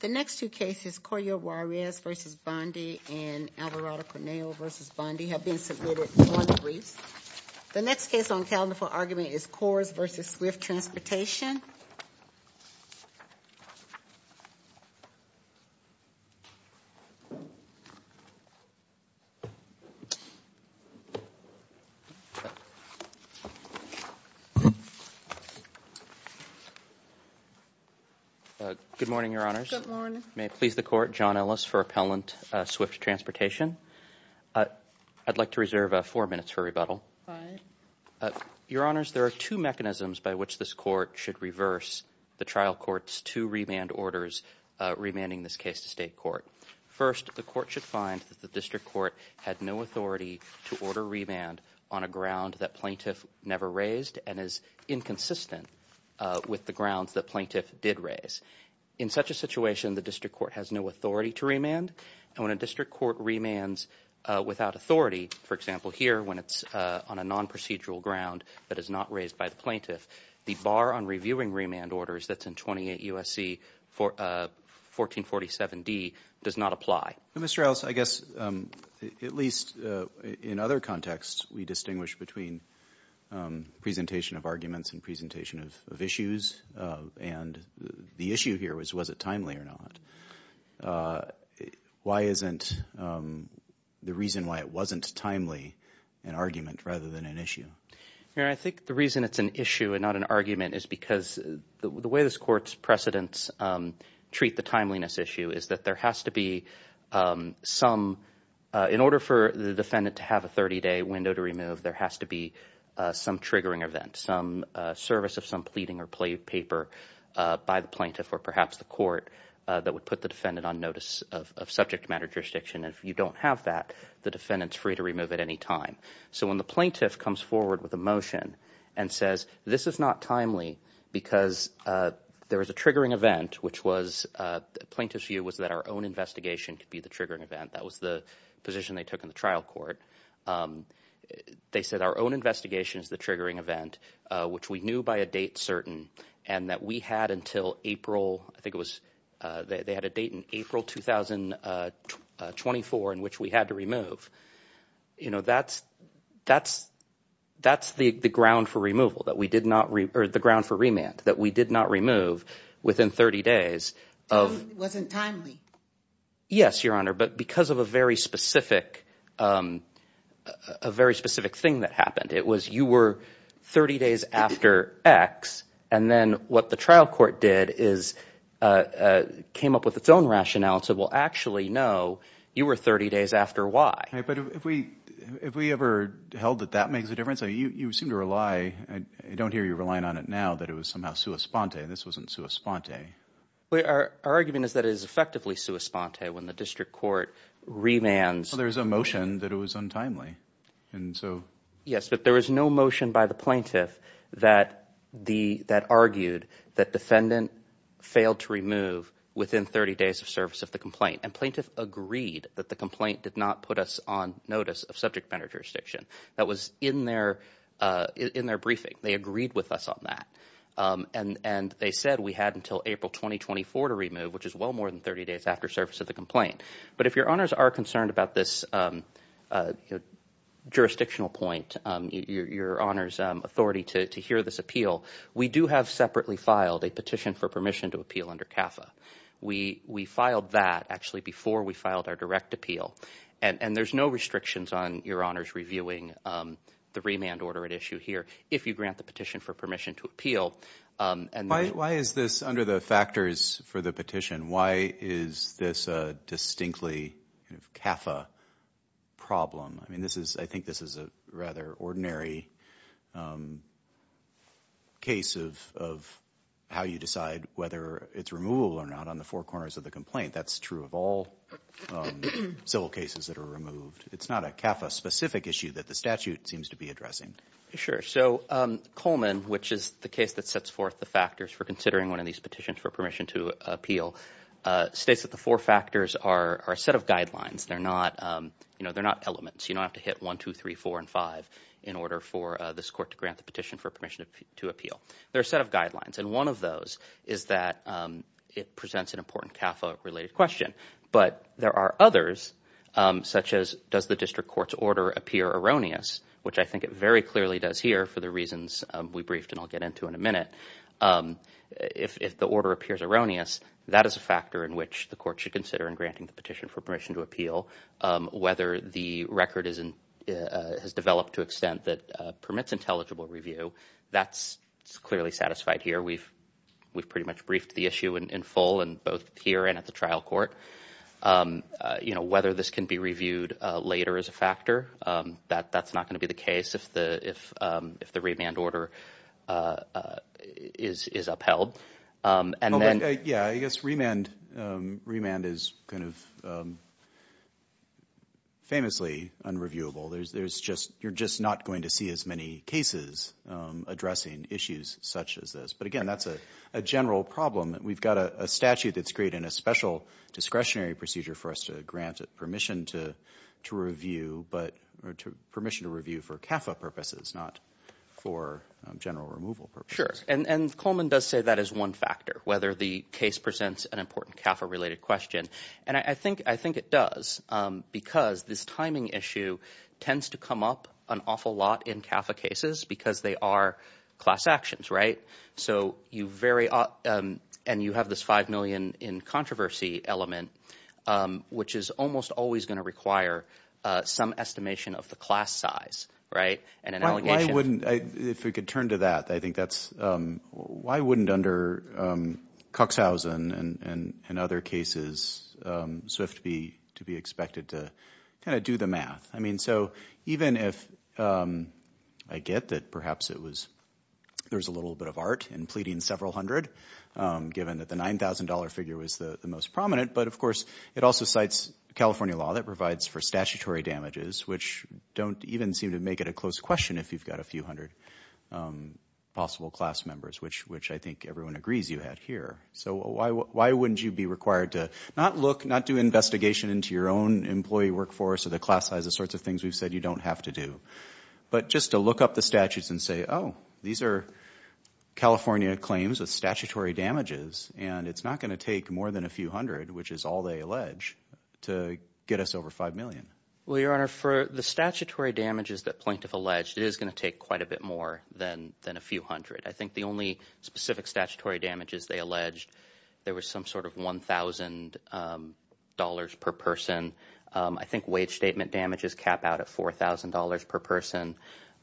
The next two cases, Corio Juarez v. Bondi and Alvarado Cornejo v. Bondi, have been submitted on the briefs. The next case on the calendar for argument is Kors v. Swift Transportation. Good morning, Your Honors. Good morning. May it please the Court, John Ellis for Appellant Swift Transportation. I'd like to reserve four minutes for rebuttal. Your Honors, there are two mechanisms by which this Court should reverse the trial court's two remand orders, remanding this case to State Court. First, the Court should find that the District Court had no authority to order remand on a ground that plaintiff never raised and is inconsistent with the grounds that plaintiff did raise. In such a situation, the District Court has no authority to remand. And when a District Court remands without authority, for example here when it's on a non-procedural ground that is not raised by the plaintiff, the bar on reviewing remand orders that's in 28 U.S.C. 1447d does not apply. Mr. Ellis, I guess, at least in other contexts, we distinguish between presentation of arguments and presentation of issues. And the issue here was, was it timely or not? Why isn't the reason why it wasn't timely an argument rather than an issue? Your Honor, I think the reason it's an issue and not an argument is because the way this Court's precedents treat the timeliness issue is that there has to be some – in order for the defendant to have a 30-day window to remove, there has to be some triggering event, some service of some pleading or plea paper by the plaintiff or perhaps the court that would put the defendant on notice of subject matter jurisdiction. And if you don't have that, the defendant's free to remove at any time. So when the plaintiff comes forward with a motion and says this is not timely because there is a triggering event, which was – the plaintiff's view was that our own investigation could be the triggering event. That was the position they took in the trial court. They said our own investigation is the triggering event, which we knew by a date certain and that we had until April – I think it was – they had a date in April 2024 in which we had to remove. That's the ground for removal that we did not – or the ground for remand that we did not remove within 30 days of – It wasn't timely. Yes, Your Honor, but because of a very specific thing that happened. It was you were 30 days after X and then what the trial court did is came up with its own rationale to actually know you were 30 days after Y. But if we ever held that that makes a difference, you seem to rely – I don't hear you relying on it now that it was somehow sua sponte. This wasn't sua sponte. Our argument is that it is effectively sua sponte when the district court remands. There's a motion that it was untimely. Yes, but there was no motion by the plaintiff that argued that defendant failed to remove within 30 days of service of the complaint. And plaintiff agreed that the complaint did not put us on notice of subject matter jurisdiction. That was in their briefing. They agreed with us on that. And they said we had until April 2024 to remove, which is well more than 30 days after service of the complaint. But if Your Honors are concerned about this jurisdictional point, Your Honor's authority to hear this appeal, we do have separately filed a petition for permission to appeal under CAFA. We filed that actually before we filed our direct appeal. And there's no restrictions on Your Honors reviewing the remand order at issue here if you grant the petition for permission to appeal. Why is this under the factors for the petition? Why is this a distinctly CAFA problem? I mean, I think this is a rather ordinary case of how you decide whether it's removable or not on the four corners of the complaint. That's true of all civil cases that are removed. It's not a CAFA-specific issue that the statute seems to be addressing. Sure. So Coleman, which is the case that sets forth the factors for considering one of these petitions for permission to appeal, states that the four factors are a set of guidelines. They're not elements. You don't have to hit 1, 2, 3, 4, and 5 in order for this court to grant the petition for permission to appeal. They're a set of guidelines. And one of those is that it presents an important CAFA-related question. But there are others, such as does the district court's order appear erroneous, which I think it very clearly does here for the reasons we briefed and I'll get into in a minute. If the order appears erroneous, that is a factor in which the court should consider in granting the petition for permission to appeal. Whether the record has developed to extent that permits intelligible review, that's clearly satisfied here. We've pretty much briefed the issue in full both here and at the trial court. Whether this can be reviewed later is a factor. That's not going to be the case if the remand order is upheld. Yeah, I guess remand is kind of famously unreviewable. You're just not going to see as many cases addressing issues such as this. But again, that's a general problem. We've got a statute that's created in a special discretionary procedure for us to grant permission to review for CAFA purposes, not for general removal purposes. Sure, and Coleman does say that is one factor, whether the case presents an important CAFA-related question. And I think it does because this timing issue tends to come up an awful lot in CAFA cases because they are class actions, right? So you very – and you have this five million in controversy element, which is almost always going to require some estimation of the class size and an allegation. I wouldn't – if we could turn to that, I think that's – why wouldn't under Cuxhausen and other cases SWIFT be expected to kind of do the math? I mean so even if – I get that perhaps it was – there was a little bit of art in pleading several hundred given that the $9,000 figure was the most prominent. But, of course, it also cites California law that provides for statutory damages, which don't even seem to make it a close question if you've got a few hundred possible class members, which I think everyone agrees you had here. So why wouldn't you be required to not look, not do investigation into your own employee workforce or the class size, the sorts of things we've said you don't have to do, but just to look up the statutes and say, oh, these are California claims with statutory damages, and it's not going to take more than a few hundred, which is all they allege, to get us over five million? Well, Your Honor, for the statutory damages that Plaintiff alleged, it is going to take quite a bit more than a few hundred. I think the only specific statutory damages they alleged, there was some sort of $1,000 per person. I think wage statement damages cap out at $4,000 per person.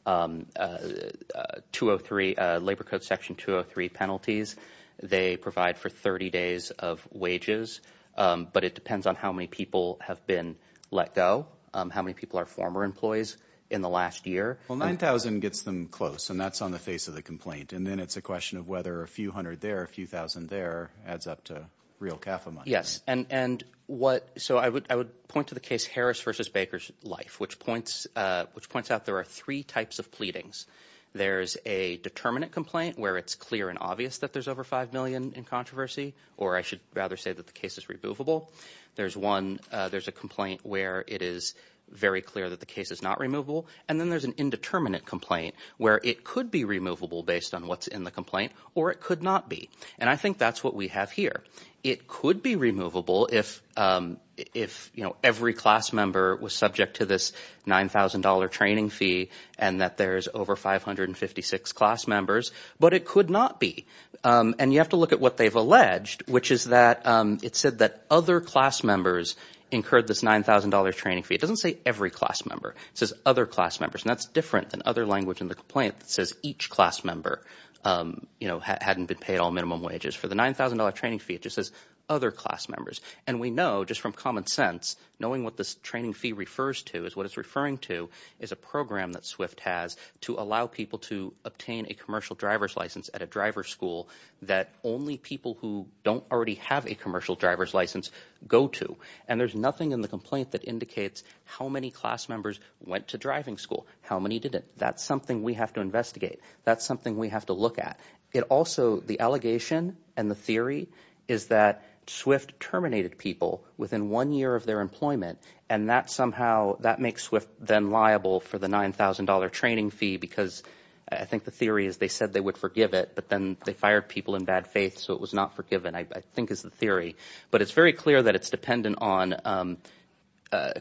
203 – Labor Code Section 203 penalties, they provide for 30 days of wages. But it depends on how many people have been let go, how many people are former employees in the last year. Well, $9,000 gets them close, and that's on the face of the complaint. And then it's a question of whether a few hundred there or a few thousand there adds up to real CAFA money. Yes, and what – so I would point to the case Harris v. Baker's Life, which points out there are three types of pleadings. There's a determinant complaint where it's clear and obvious that there's over five million in controversy, or I should rather say that the case is removable. There's one – there's a complaint where it is very clear that the case is not removable. And then there's an indeterminate complaint where it could be removable based on what's in the complaint, or it could not be. And I think that's what we have here. It could be removable if every class member was subject to this $9,000 training fee and that there's over 556 class members, but it could not be. And you have to look at what they've alleged, which is that it said that other class members incurred this $9,000 training fee. It doesn't say every class member. It says other class members, and that's different than other language in the complaint that says each class member hadn't been paid all minimum wages. For the $9,000 training fee, it just says other class members. And we know just from common sense, knowing what this training fee refers to is what it's referring to is a program that SWIFT has to allow people to obtain a commercial driver's license at a driver's school that only people who don't already have a commercial driver's license go to. And there's nothing in the complaint that indicates how many class members went to driving school, how many didn't. That's something we have to investigate. That's something we have to look at. It also – the allegation and the theory is that SWIFT terminated people within one year of their employment, and that somehow – that makes SWIFT then liable for the $9,000 training fee because I think the theory is they said they would forgive it. But then they fired people in bad faith, so it was not forgiven I think is the theory. But it's very clear that it's dependent on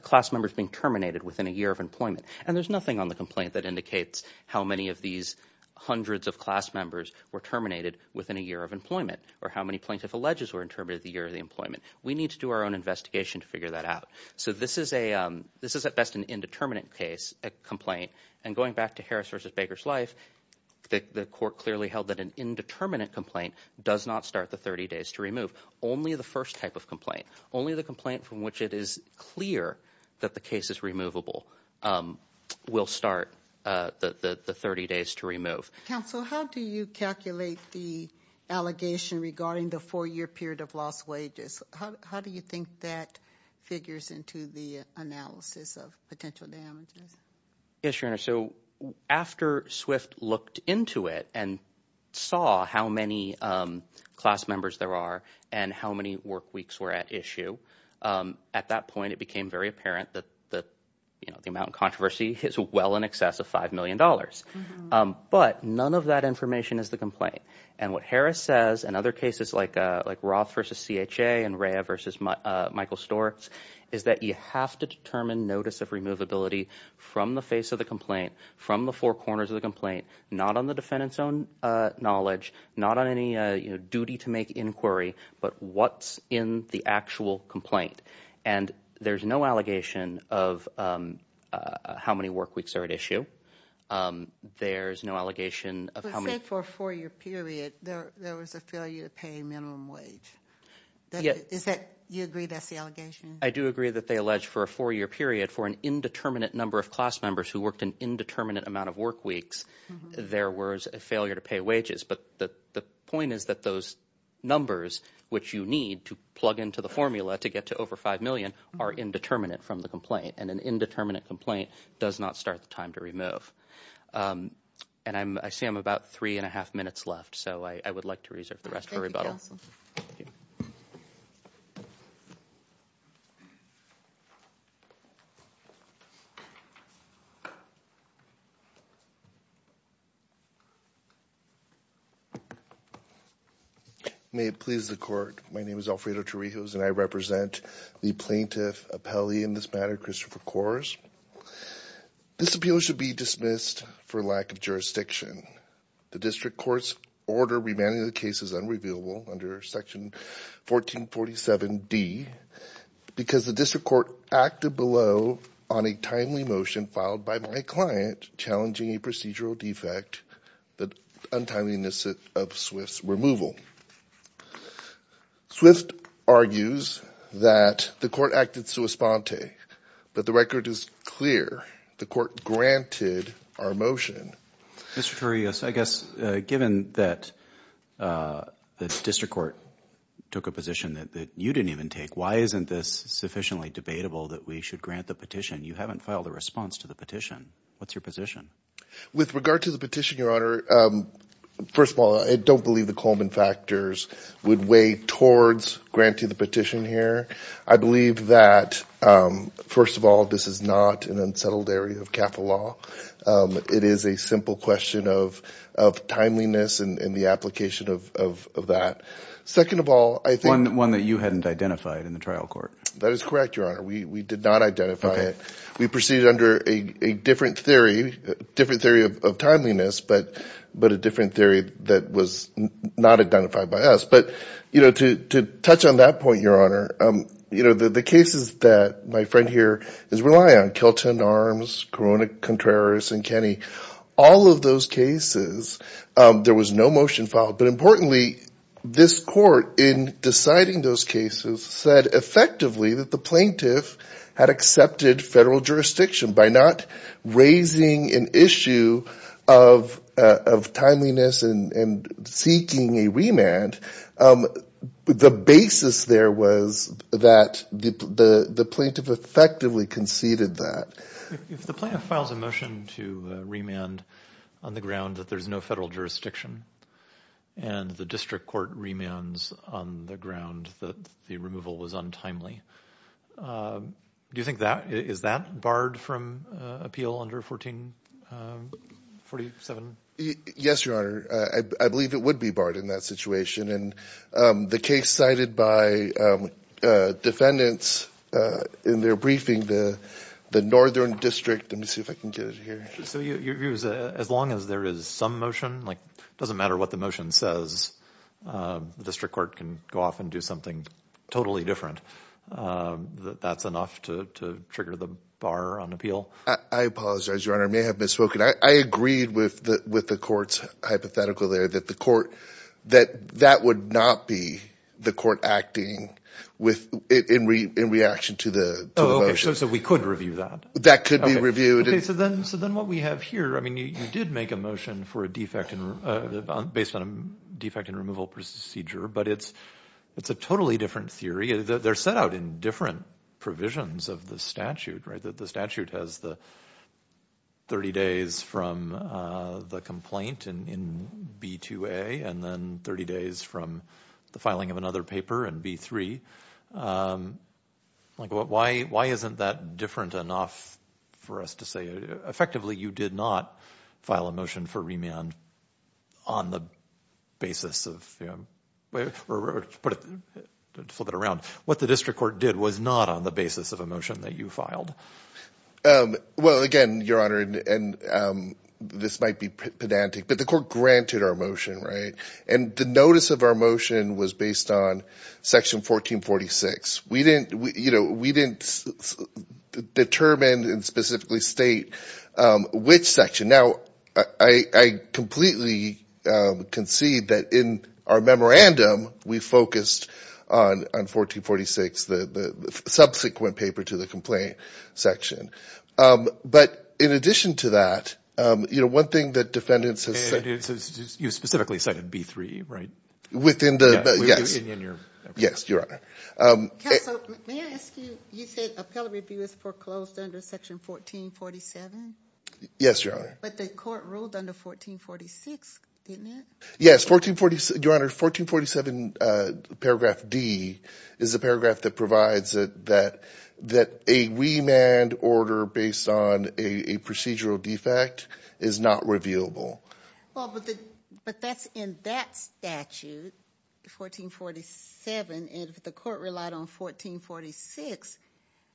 class members being terminated within a year of employment. And there's nothing on the complaint that indicates how many of these hundreds of class members were terminated within a year of employment or how many plaintiff alleges were terminated within a year of employment. We need to do our own investigation to figure that out. So this is a – this is at best an indeterminate case, a complaint. And going back to Harris v. Baker's life, the court clearly held that an indeterminate complaint does not start the 30 days to remove. Only the first type of complaint, only the complaint from which it is clear that the case is removable, will start the 30 days to remove. Counsel, how do you calculate the allegation regarding the four-year period of lost wages? How do you think that figures into the analysis of potential damages? Yes, Your Honor. So after Swift looked into it and saw how many class members there are and how many work weeks were at issue, at that point it became very apparent that the amount of controversy is well in excess of $5 million. But none of that information is the complaint. And what Harris says in other cases like Roth v. CHA and Rea v. Michael Stortz is that you have to determine notice of removability from the face of the complaint, from the four corners of the complaint, not on the defendant's own knowledge, not on any duty to make inquiry, but what's in the actual complaint. And there's no allegation of how many work weeks are at issue. There's no allegation of how many – For a four-year period, there was a failure to pay minimum wage. Do you agree that's the allegation? I do agree that they allege for a four-year period, for an indeterminate number of class members who worked an indeterminate amount of work weeks, there was a failure to pay wages. But the point is that those numbers, which you need to plug into the formula to get to over $5 million, are indeterminate from the complaint. And an indeterminate complaint does not start the time to remove. And I see I'm about three and a half minutes left, so I would like to reserve the rest for rebuttal. Thank you. May it please the court, my name is Alfredo Torrijos, and I represent the plaintiff appellee in this matter, Christopher Kors. This appeal should be dismissed for lack of jurisdiction. The district court's order remanding the case is unrevealable under section 1447D because the district court acted below on a timely motion filed by my client challenging a procedural defect, the untimeliness of Swift's removal. Swift argues that the court acted sua sponte, but the record is clear. The court granted our motion. Mr. Torrijos, I guess given that the district court took a position that you didn't even take, why isn't this sufficiently debatable that we should grant the petition? You haven't filed a response to the petition. What's your position? With regard to the petition, Your Honor, first of all, I don't believe the Coleman factors would weigh towards granting the petition here. I believe that, first of all, this is not an unsettled area of capital law. It is a simple question of timeliness and the application of that. Second of all, I think— One that you hadn't identified in the trial court. That is correct, Your Honor. We did not identify it. Okay. We proceeded under a different theory, a different theory of timeliness, but a different theory that was not identified by us. But to touch on that point, Your Honor, the cases that my friend here is relying on, Kelton Arms, Corona Contreras, and Kenny, all of those cases, there was no motion filed. But importantly, this court, in deciding those cases, said effectively that the plaintiff had accepted federal jurisdiction. By not raising an issue of timeliness and seeking a remand, the basis there was that the plaintiff effectively conceded that. If the plaintiff files a motion to remand on the ground that there's no federal jurisdiction and the district court remands on the ground that the removal was untimely, do you think that—is that barred from appeal under 1447? Yes, Your Honor. I believe it would be barred in that situation. The case cited by defendants in their briefing, the northern district—let me see if I can get it here. So your view is that as long as there is some motion, like it doesn't matter what the motion says, the district court can go off and do something totally different. That that's enough to trigger the bar on appeal? I apologize, Your Honor. I may have misspoken. I agreed with the court's hypothetical there that the court—that that would not be the court acting in reaction to the motion. So we could review that? That could be reviewed. Okay. So then what we have here—I mean, you did make a motion based on a defect in removal procedure, but it's a totally different theory. They're set out in different provisions of the statute, right? The statute has the 30 days from the complaint in B2A and then 30 days from the filing of another paper in B3. Why isn't that different enough for us to say—effectively, you did not file a motion for remand on the basis of—or flip it around. What the district court did was not on the basis of a motion that you filed. Well, again, Your Honor, and this might be pedantic, but the court granted our motion, right? And the notice of our motion was based on Section 1446. We didn't determine and specifically state which section. Now, I completely concede that in our memorandum, we focused on 1446, the subsequent paper to the complaint section. But in addition to that, one thing that defendants have said— You specifically cited B3, right? Within the—yes, Your Honor. Counsel, may I ask you—you said appellate review is foreclosed under Section 1447? Yes, Your Honor. But the court ruled under 1446, didn't it? Yes, Your Honor, 1447 paragraph D is a paragraph that provides that a remand order based on a procedural defect is not reviewable. Well, but that's in that statute, 1447, and if the court relied on 1446,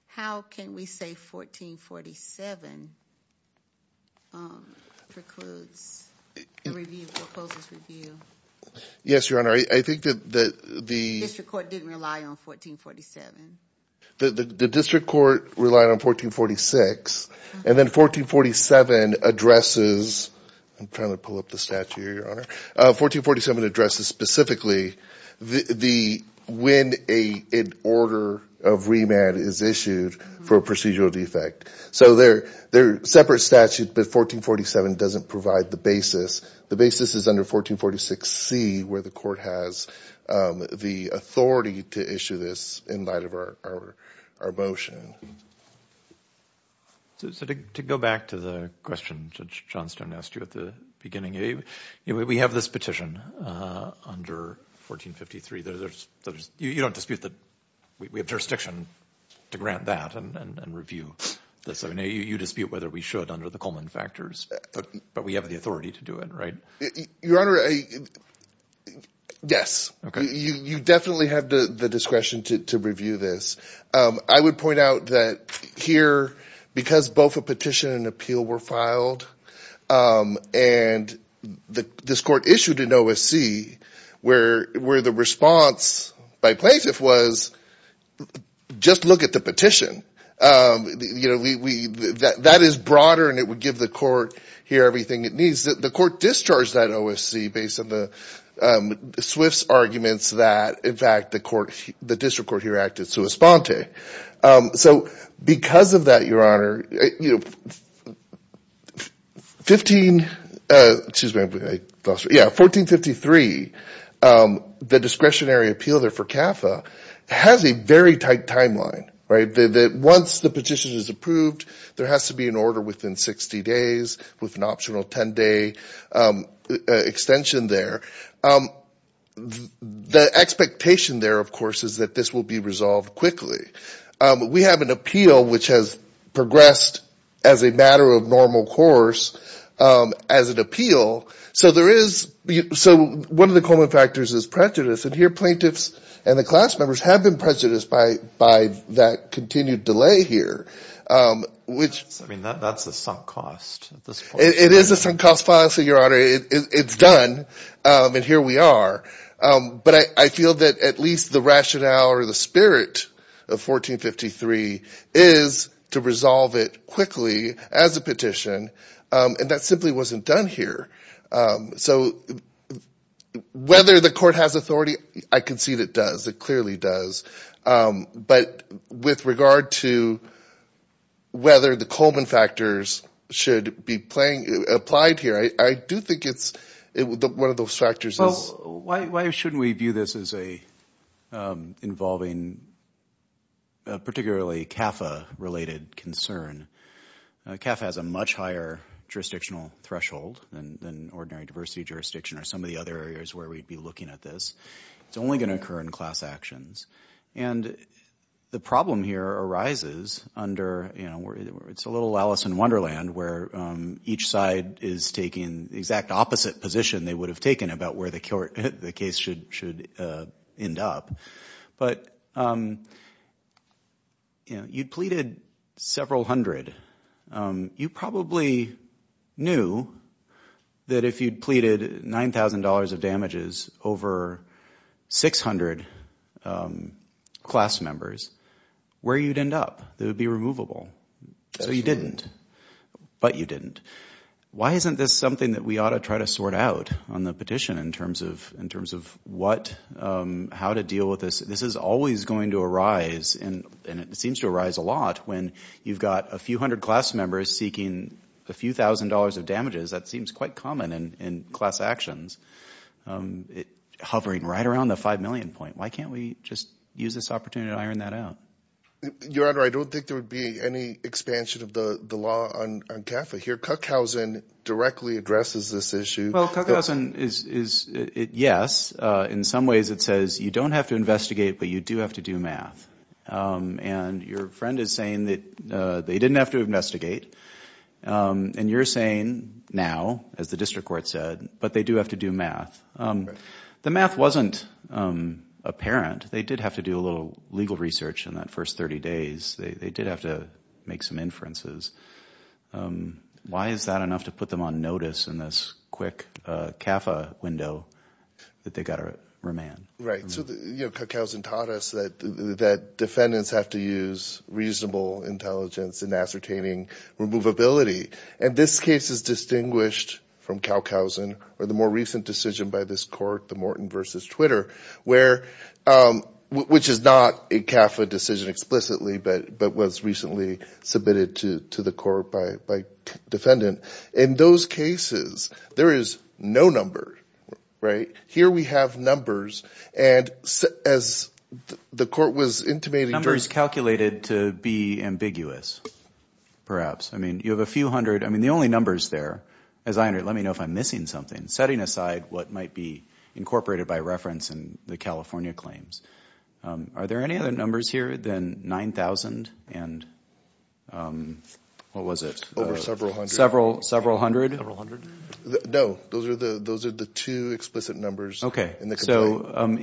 how can we say 1447 precludes a proposal to review? Yes, Your Honor, I think that the— The district court didn't rely on 1447. The district court relied on 1446, and then 1447 addresses—I'm trying to pull up the statute here, Your Honor— 1447 addresses specifically when an order of remand is issued for a procedural defect. So they're separate statutes, but 1447 doesn't provide the basis. The basis is under 1446C where the court has the authority to issue this in light of our motion. So to go back to the question Judge Johnstone asked you at the beginning, we have this petition under 1453. You don't dispute that we have jurisdiction to grant that and review this? You dispute whether we should under the Coleman factors, but we have the authority to do it, right? Your Honor, yes. Okay. You definitely have the discretion to review this. I would point out that here, because both a petition and an appeal were filed, and this court issued an OSC, where the response by plaintiff was just look at the petition. You know, that is broader, and it would give the court here everything it needs. The court discharged that OSC based on the Swift's arguments that, in fact, the district court here acted sua sponte. So because of that, Your Honor, you know, 15—excuse me, I lost it. Yeah, 1453, the discretionary appeal there for CAFA has a very tight timeline, right? Once the petition is approved, there has to be an order within 60 days with an optional 10-day extension there. The expectation there, of course, is that this will be resolved quickly. We have an appeal which has progressed as a matter of normal course as an appeal. So one of the common factors is prejudice, and here plaintiffs and the class members have been prejudiced by that continued delay here. I mean, that's a sunk cost. It is a sunk cost, Your Honor. It's done, and here we are. But I feel that at least the rationale or the spirit of 1453 is to resolve it quickly as a petition. And that simply wasn't done here. So whether the court has authority, I concede it does. It clearly does. But with regard to whether the Coleman factors should be applied here, I do think it's—one of those factors is— Well, why shouldn't we view this as involving particularly CAFA-related concern? CAFA has a much higher jurisdictional threshold than ordinary diversity jurisdiction or some of the other areas where we'd be looking at this. It's only going to occur in class actions. And the problem here arises under—it's a little Alice in Wonderland where each side is taking the exact opposite position they would have taken about where the case should end up. But you'd pleaded several hundred. You probably knew that if you'd pleaded $9,000 of damages over 600 class members, where you'd end up. It would be removable. So you didn't. But you didn't. Why isn't this something that we ought to try to sort out on the petition in terms of what—how to deal with this? This is always going to arise, and it seems to arise a lot, when you've got a few hundred class members seeking a few thousand dollars of damages. That seems quite common in class actions, hovering right around the 5 million point. Why can't we just use this opportunity to iron that out? Your Honor, I don't think there would be any expansion of the law on CAFA here. Kuckhausen directly addresses this issue. Well, Kuckhausen is—yes. In some ways it says you don't have to investigate, but you do have to do math. And your friend is saying that they didn't have to investigate. And you're saying now, as the district court said, but they do have to do math. The math wasn't apparent. They did have to do a little legal research in that first 30 days. They did have to make some inferences. Why is that enough to put them on notice in this quick CAFA window that they've got to remand? So Kuckhausen taught us that defendants have to use reasonable intelligence in ascertaining removability. And this case is distinguished from Kuckhausen or the more recent decision by this court, the Morton v. Twitter, which is not a CAFA decision explicitly but was recently submitted to the court by a defendant. In those cases, there is no number. Here we have numbers. And as the court was intimating— Numbers calculated to be ambiguous, perhaps. I mean, you have a few hundred. I mean, the only numbers there, as I under—let me know if I'm missing something, setting aside what might be incorporated by reference in the California claims. Are there any other numbers here than 9,000 and—what was it? Over several hundred. Several hundred? Several hundred? No. Those are the two explicit numbers. So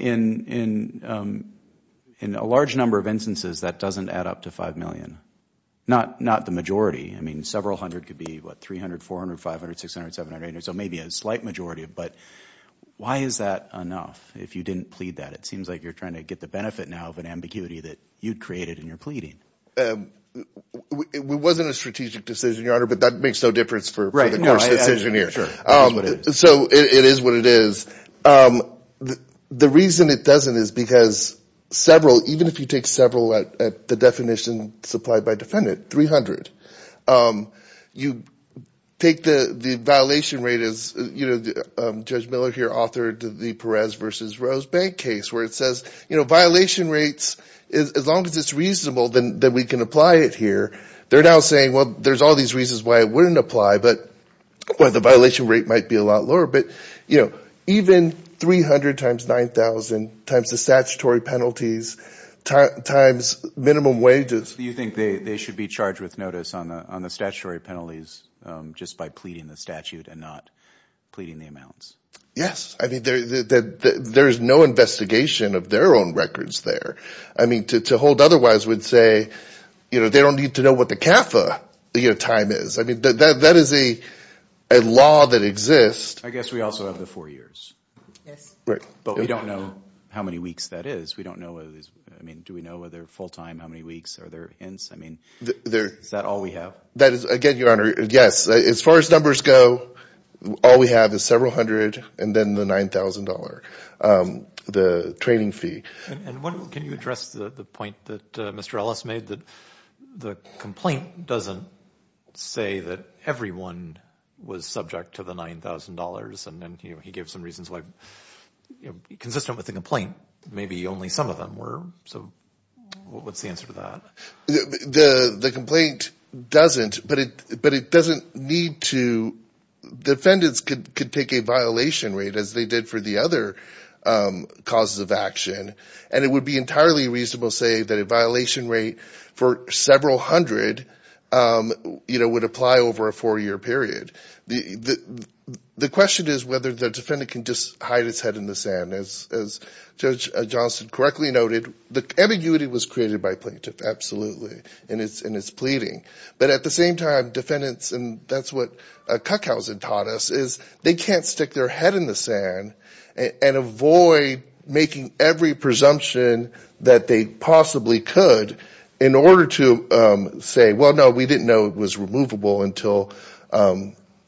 in a large number of instances, that doesn't add up to 5 million. Not the majority. I mean, several hundred could be, what, 300, 400, 500, 600, 700, 800, so maybe a slight majority. But why is that enough if you didn't plead that? It seems like you're trying to get the benefit now of an ambiguity that you'd created in your pleading. It wasn't a strategic decision, Your Honor, but that makes no difference for the court's decision here. So it is what it is. The reason it doesn't is because several, even if you take several at the definition supplied by defendant, 300, you take the violation rate as, you know, Judge Miller here authored the Perez v. Rose Bank case, where it says, you know, violation rates, as long as it's reasonable, then we can apply it here. They're now saying, well, there's all these reasons why it wouldn't apply, but the violation rate might be a lot lower. But, you know, even 300 times 9,000 times the statutory penalties times minimum wages. Do you think they should be charged with notice on the statutory penalties just by pleading the statute and not pleading the amounts? Yes. I mean, there is no investigation of their own records there. I mean, to hold otherwise would say, you know, they don't need to know what the CAFA time is. I mean, that is a law that exists. I guess we also have the four years. Yes. But we don't know how many weeks that is. We don't know, I mean, do we know whether full time, how many weeks, are there hints? I mean, is that all we have? That is, again, Your Honor, yes. As far as numbers go, all we have is several hundred and then the $9,000, the training fee. And can you address the point that Mr. Ellis made that the complaint doesn't say that everyone was subject to the $9,000 and then he gave some reasons why consistent with the complaint maybe only some of them were. So what is the answer to that? The complaint doesn't, but it doesn't need to, defendants could take a violation rate as they did for the other causes of action. And it would be entirely reasonable to say that a violation rate for several hundred, you know, would apply over a four-year period. The question is whether the defendant can just hide his head in the sand. And as Judge Johnston correctly noted, the ambiguity was created by plaintiff, absolutely, in his pleading. But at the same time, defendants, and that's what Kuckhausen taught us, is they can't stick their head in the sand and avoid making every presumption that they possibly could in order to say, well, no, we didn't know it was removable until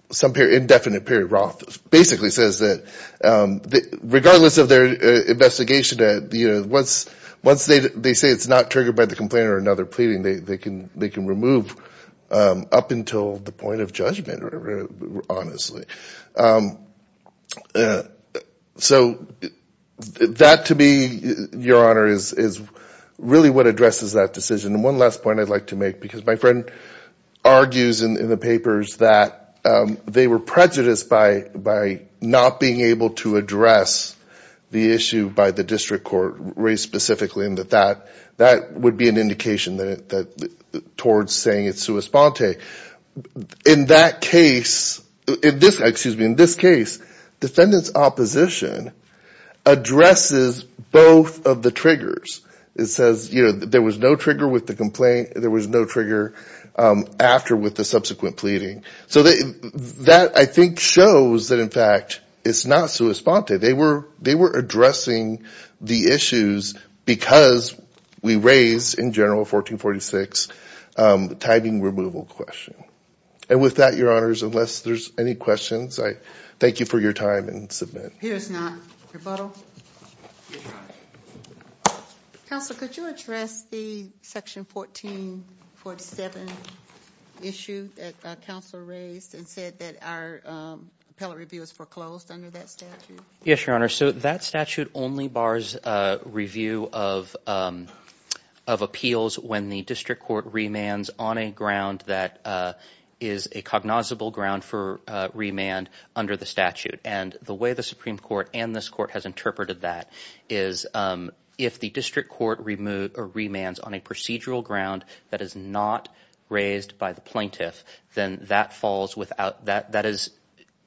some indefinite period. Roth basically says that regardless of their investigation, once they say it's not triggered by the complaint or another pleading, they can remove up until the point of judgment, honestly. So that to me, Your Honor, is really what addresses that decision. And one last point I'd like to make, because my friend argues in the papers that they were prejudiced by not being able to address the issue by the district court, raised specifically in that that would be an indication towards saying it's sua sponte. In that case, excuse me, in this case, defendant's opposition addresses both of the triggers. It says there was no trigger with the complaint, there was no trigger after with the subsequent pleading. So that, I think, shows that, in fact, it's not sua sponte. They were addressing the issues because we raised, in general, 1446, the timing removal question. And with that, Your Honors, unless there's any questions, I thank you for your time and submit. Appears not. Rebuttal? Counsel, could you address the section 1447 issue that counsel raised and said that our appellate review is foreclosed under that statute? Yes, Your Honor. So that statute only bars review of appeals when the district court remands on a ground that is a cognizable ground for remand under the statute. And the way the Supreme Court and this court has interpreted that is if the district court remands on a procedural ground that is not raised by the plaintiff, then that falls without, that is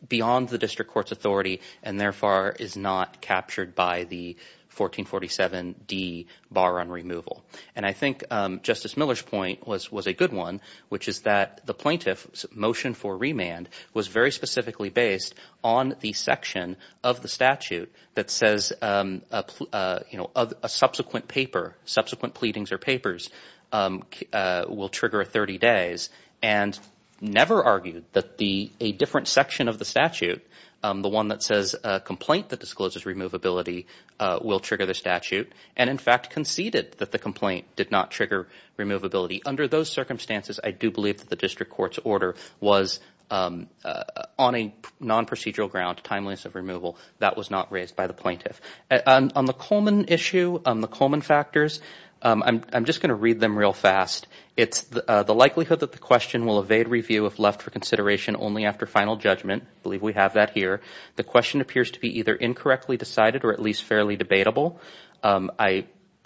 beyond the district court's authority and therefore is not captured by the 1447D bar on removal. And I think Justice Miller's point was a good one, which is that the plaintiff's motion for remand was very specifically based on the section of the statute that says a subsequent paper, subsequent pleadings or papers will trigger 30 days and never argued that a different section of the statute, the one that says a complaint that discloses removability will trigger the statute and in fact conceded that the complaint did not trigger removability. Under those circumstances, I do believe that the district court's order was on a non-procedural ground, timeliness of removal, that was not raised by the plaintiff. On the Coleman issue, on the Coleman factors, I'm just going to read them real fast. It's the likelihood that the question will evade review if left for consideration only after final judgment. I believe we have that here. The question appears to be either incorrectly decided or at least fairly debatable.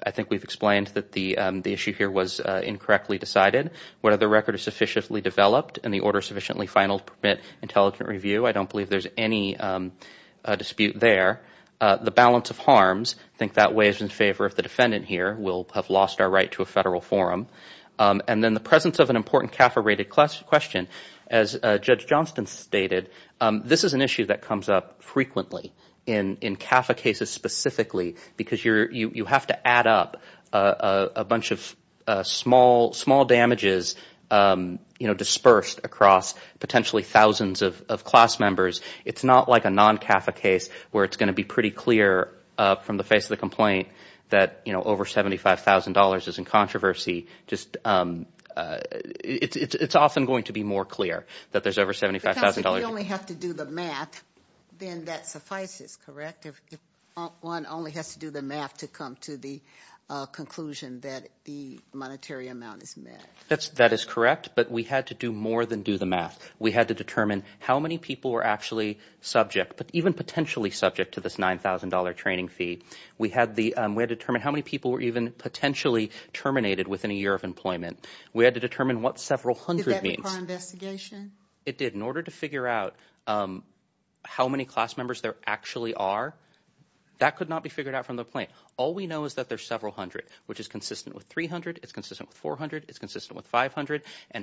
I think we've explained that the issue here was incorrectly decided. Whether the record is sufficiently developed and the order sufficiently final to permit intelligent review, I don't believe there's any dispute there. The balance of harms, I think that weighs in favor of the defendant here. We'll have lost our right to a federal forum. And then the presence of an important CAFA rated question. As Judge Johnston stated, this is an issue that comes up frequently in CAFA cases specifically because you have to add up a bunch of small damages dispersed across potentially thousands of class members. It's not like a non-CAFA case where it's going to be pretty clear from the face of the complaint that over $75,000 is in controversy. It's often going to be more clear that there's over $75,000. Because if you only have to do the math, then that suffices, correct? One only has to do the math to come to the conclusion that the monetary amount is met. That is correct, but we had to do more than do the math. We had to determine how many people were actually subject, but even potentially subject to this $9,000 training fee. We had to determine how many people were even potentially terminated within a year of employment. We had to determine what several hundred means. Did that require investigation? It did. In order to figure out how many class members there actually are, that could not be figured out from the complaint. All we know is that there's several hundred, which is consistent with 300. It's consistent with 400. It's consistent with 500.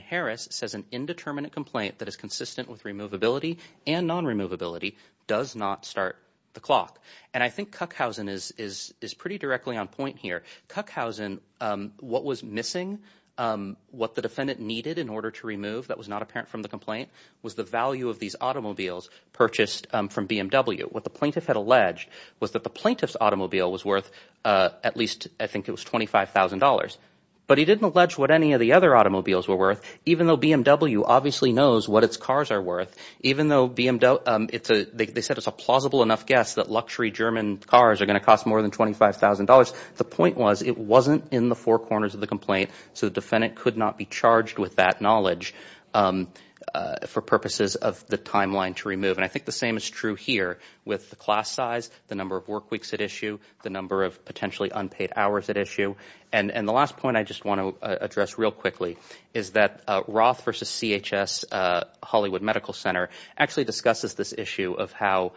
Harris says an indeterminate complaint that is consistent with removability and non-removability does not start the clock. I think Kuckhausen is pretty directly on point here. Kuckhausen, what was missing, what the defendant needed in order to remove that was not apparent from the complaint, was the value of these automobiles purchased from BMW. What the plaintiff had alleged was that the plaintiff's automobile was worth at least, I think it was $25,000. But he didn't allege what any of the other automobiles were worth, even though BMW obviously knows what its cars are worth. Even though they said it's a plausible enough guess that luxury German cars are going to cost more than $25,000, the point was it wasn't in the four corners of the complaint, so the defendant could not be charged with that knowledge for purposes of the timeline to remove. I think the same is true here with the class size, the number of work weeks at issue, the number of potentially unpaid hours at issue. The last point I just want to address real quickly is that Roth versus CHS Hollywood Medical Center actually discusses this issue of how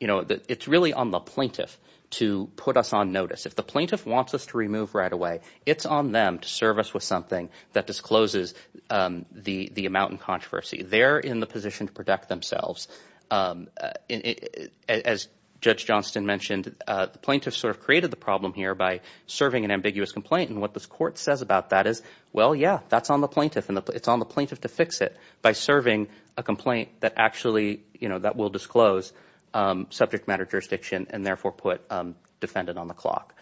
it's really on the plaintiff to put us on notice. If the plaintiff wants us to remove right away, it's on them to serve us with something that discloses the amount in controversy. They're in the position to protect themselves. As Judge Johnston mentioned, the plaintiff sort of created the problem here by serving an ambiguous complaint, and what this court says about that is, well, yeah, that's on the plaintiff, and it's on the plaintiff to fix it by serving a complaint that will disclose subject matter jurisdiction and therefore put a defendant on the clock.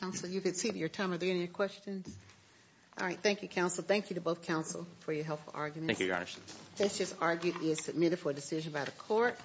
Counsel, you've exceeded your time. Are there any questions? All right. Thank you, counsel. Thank you to both counsel for your helpful arguments. Thank you, Your Honor. This case is argued and submitted for decision by the court.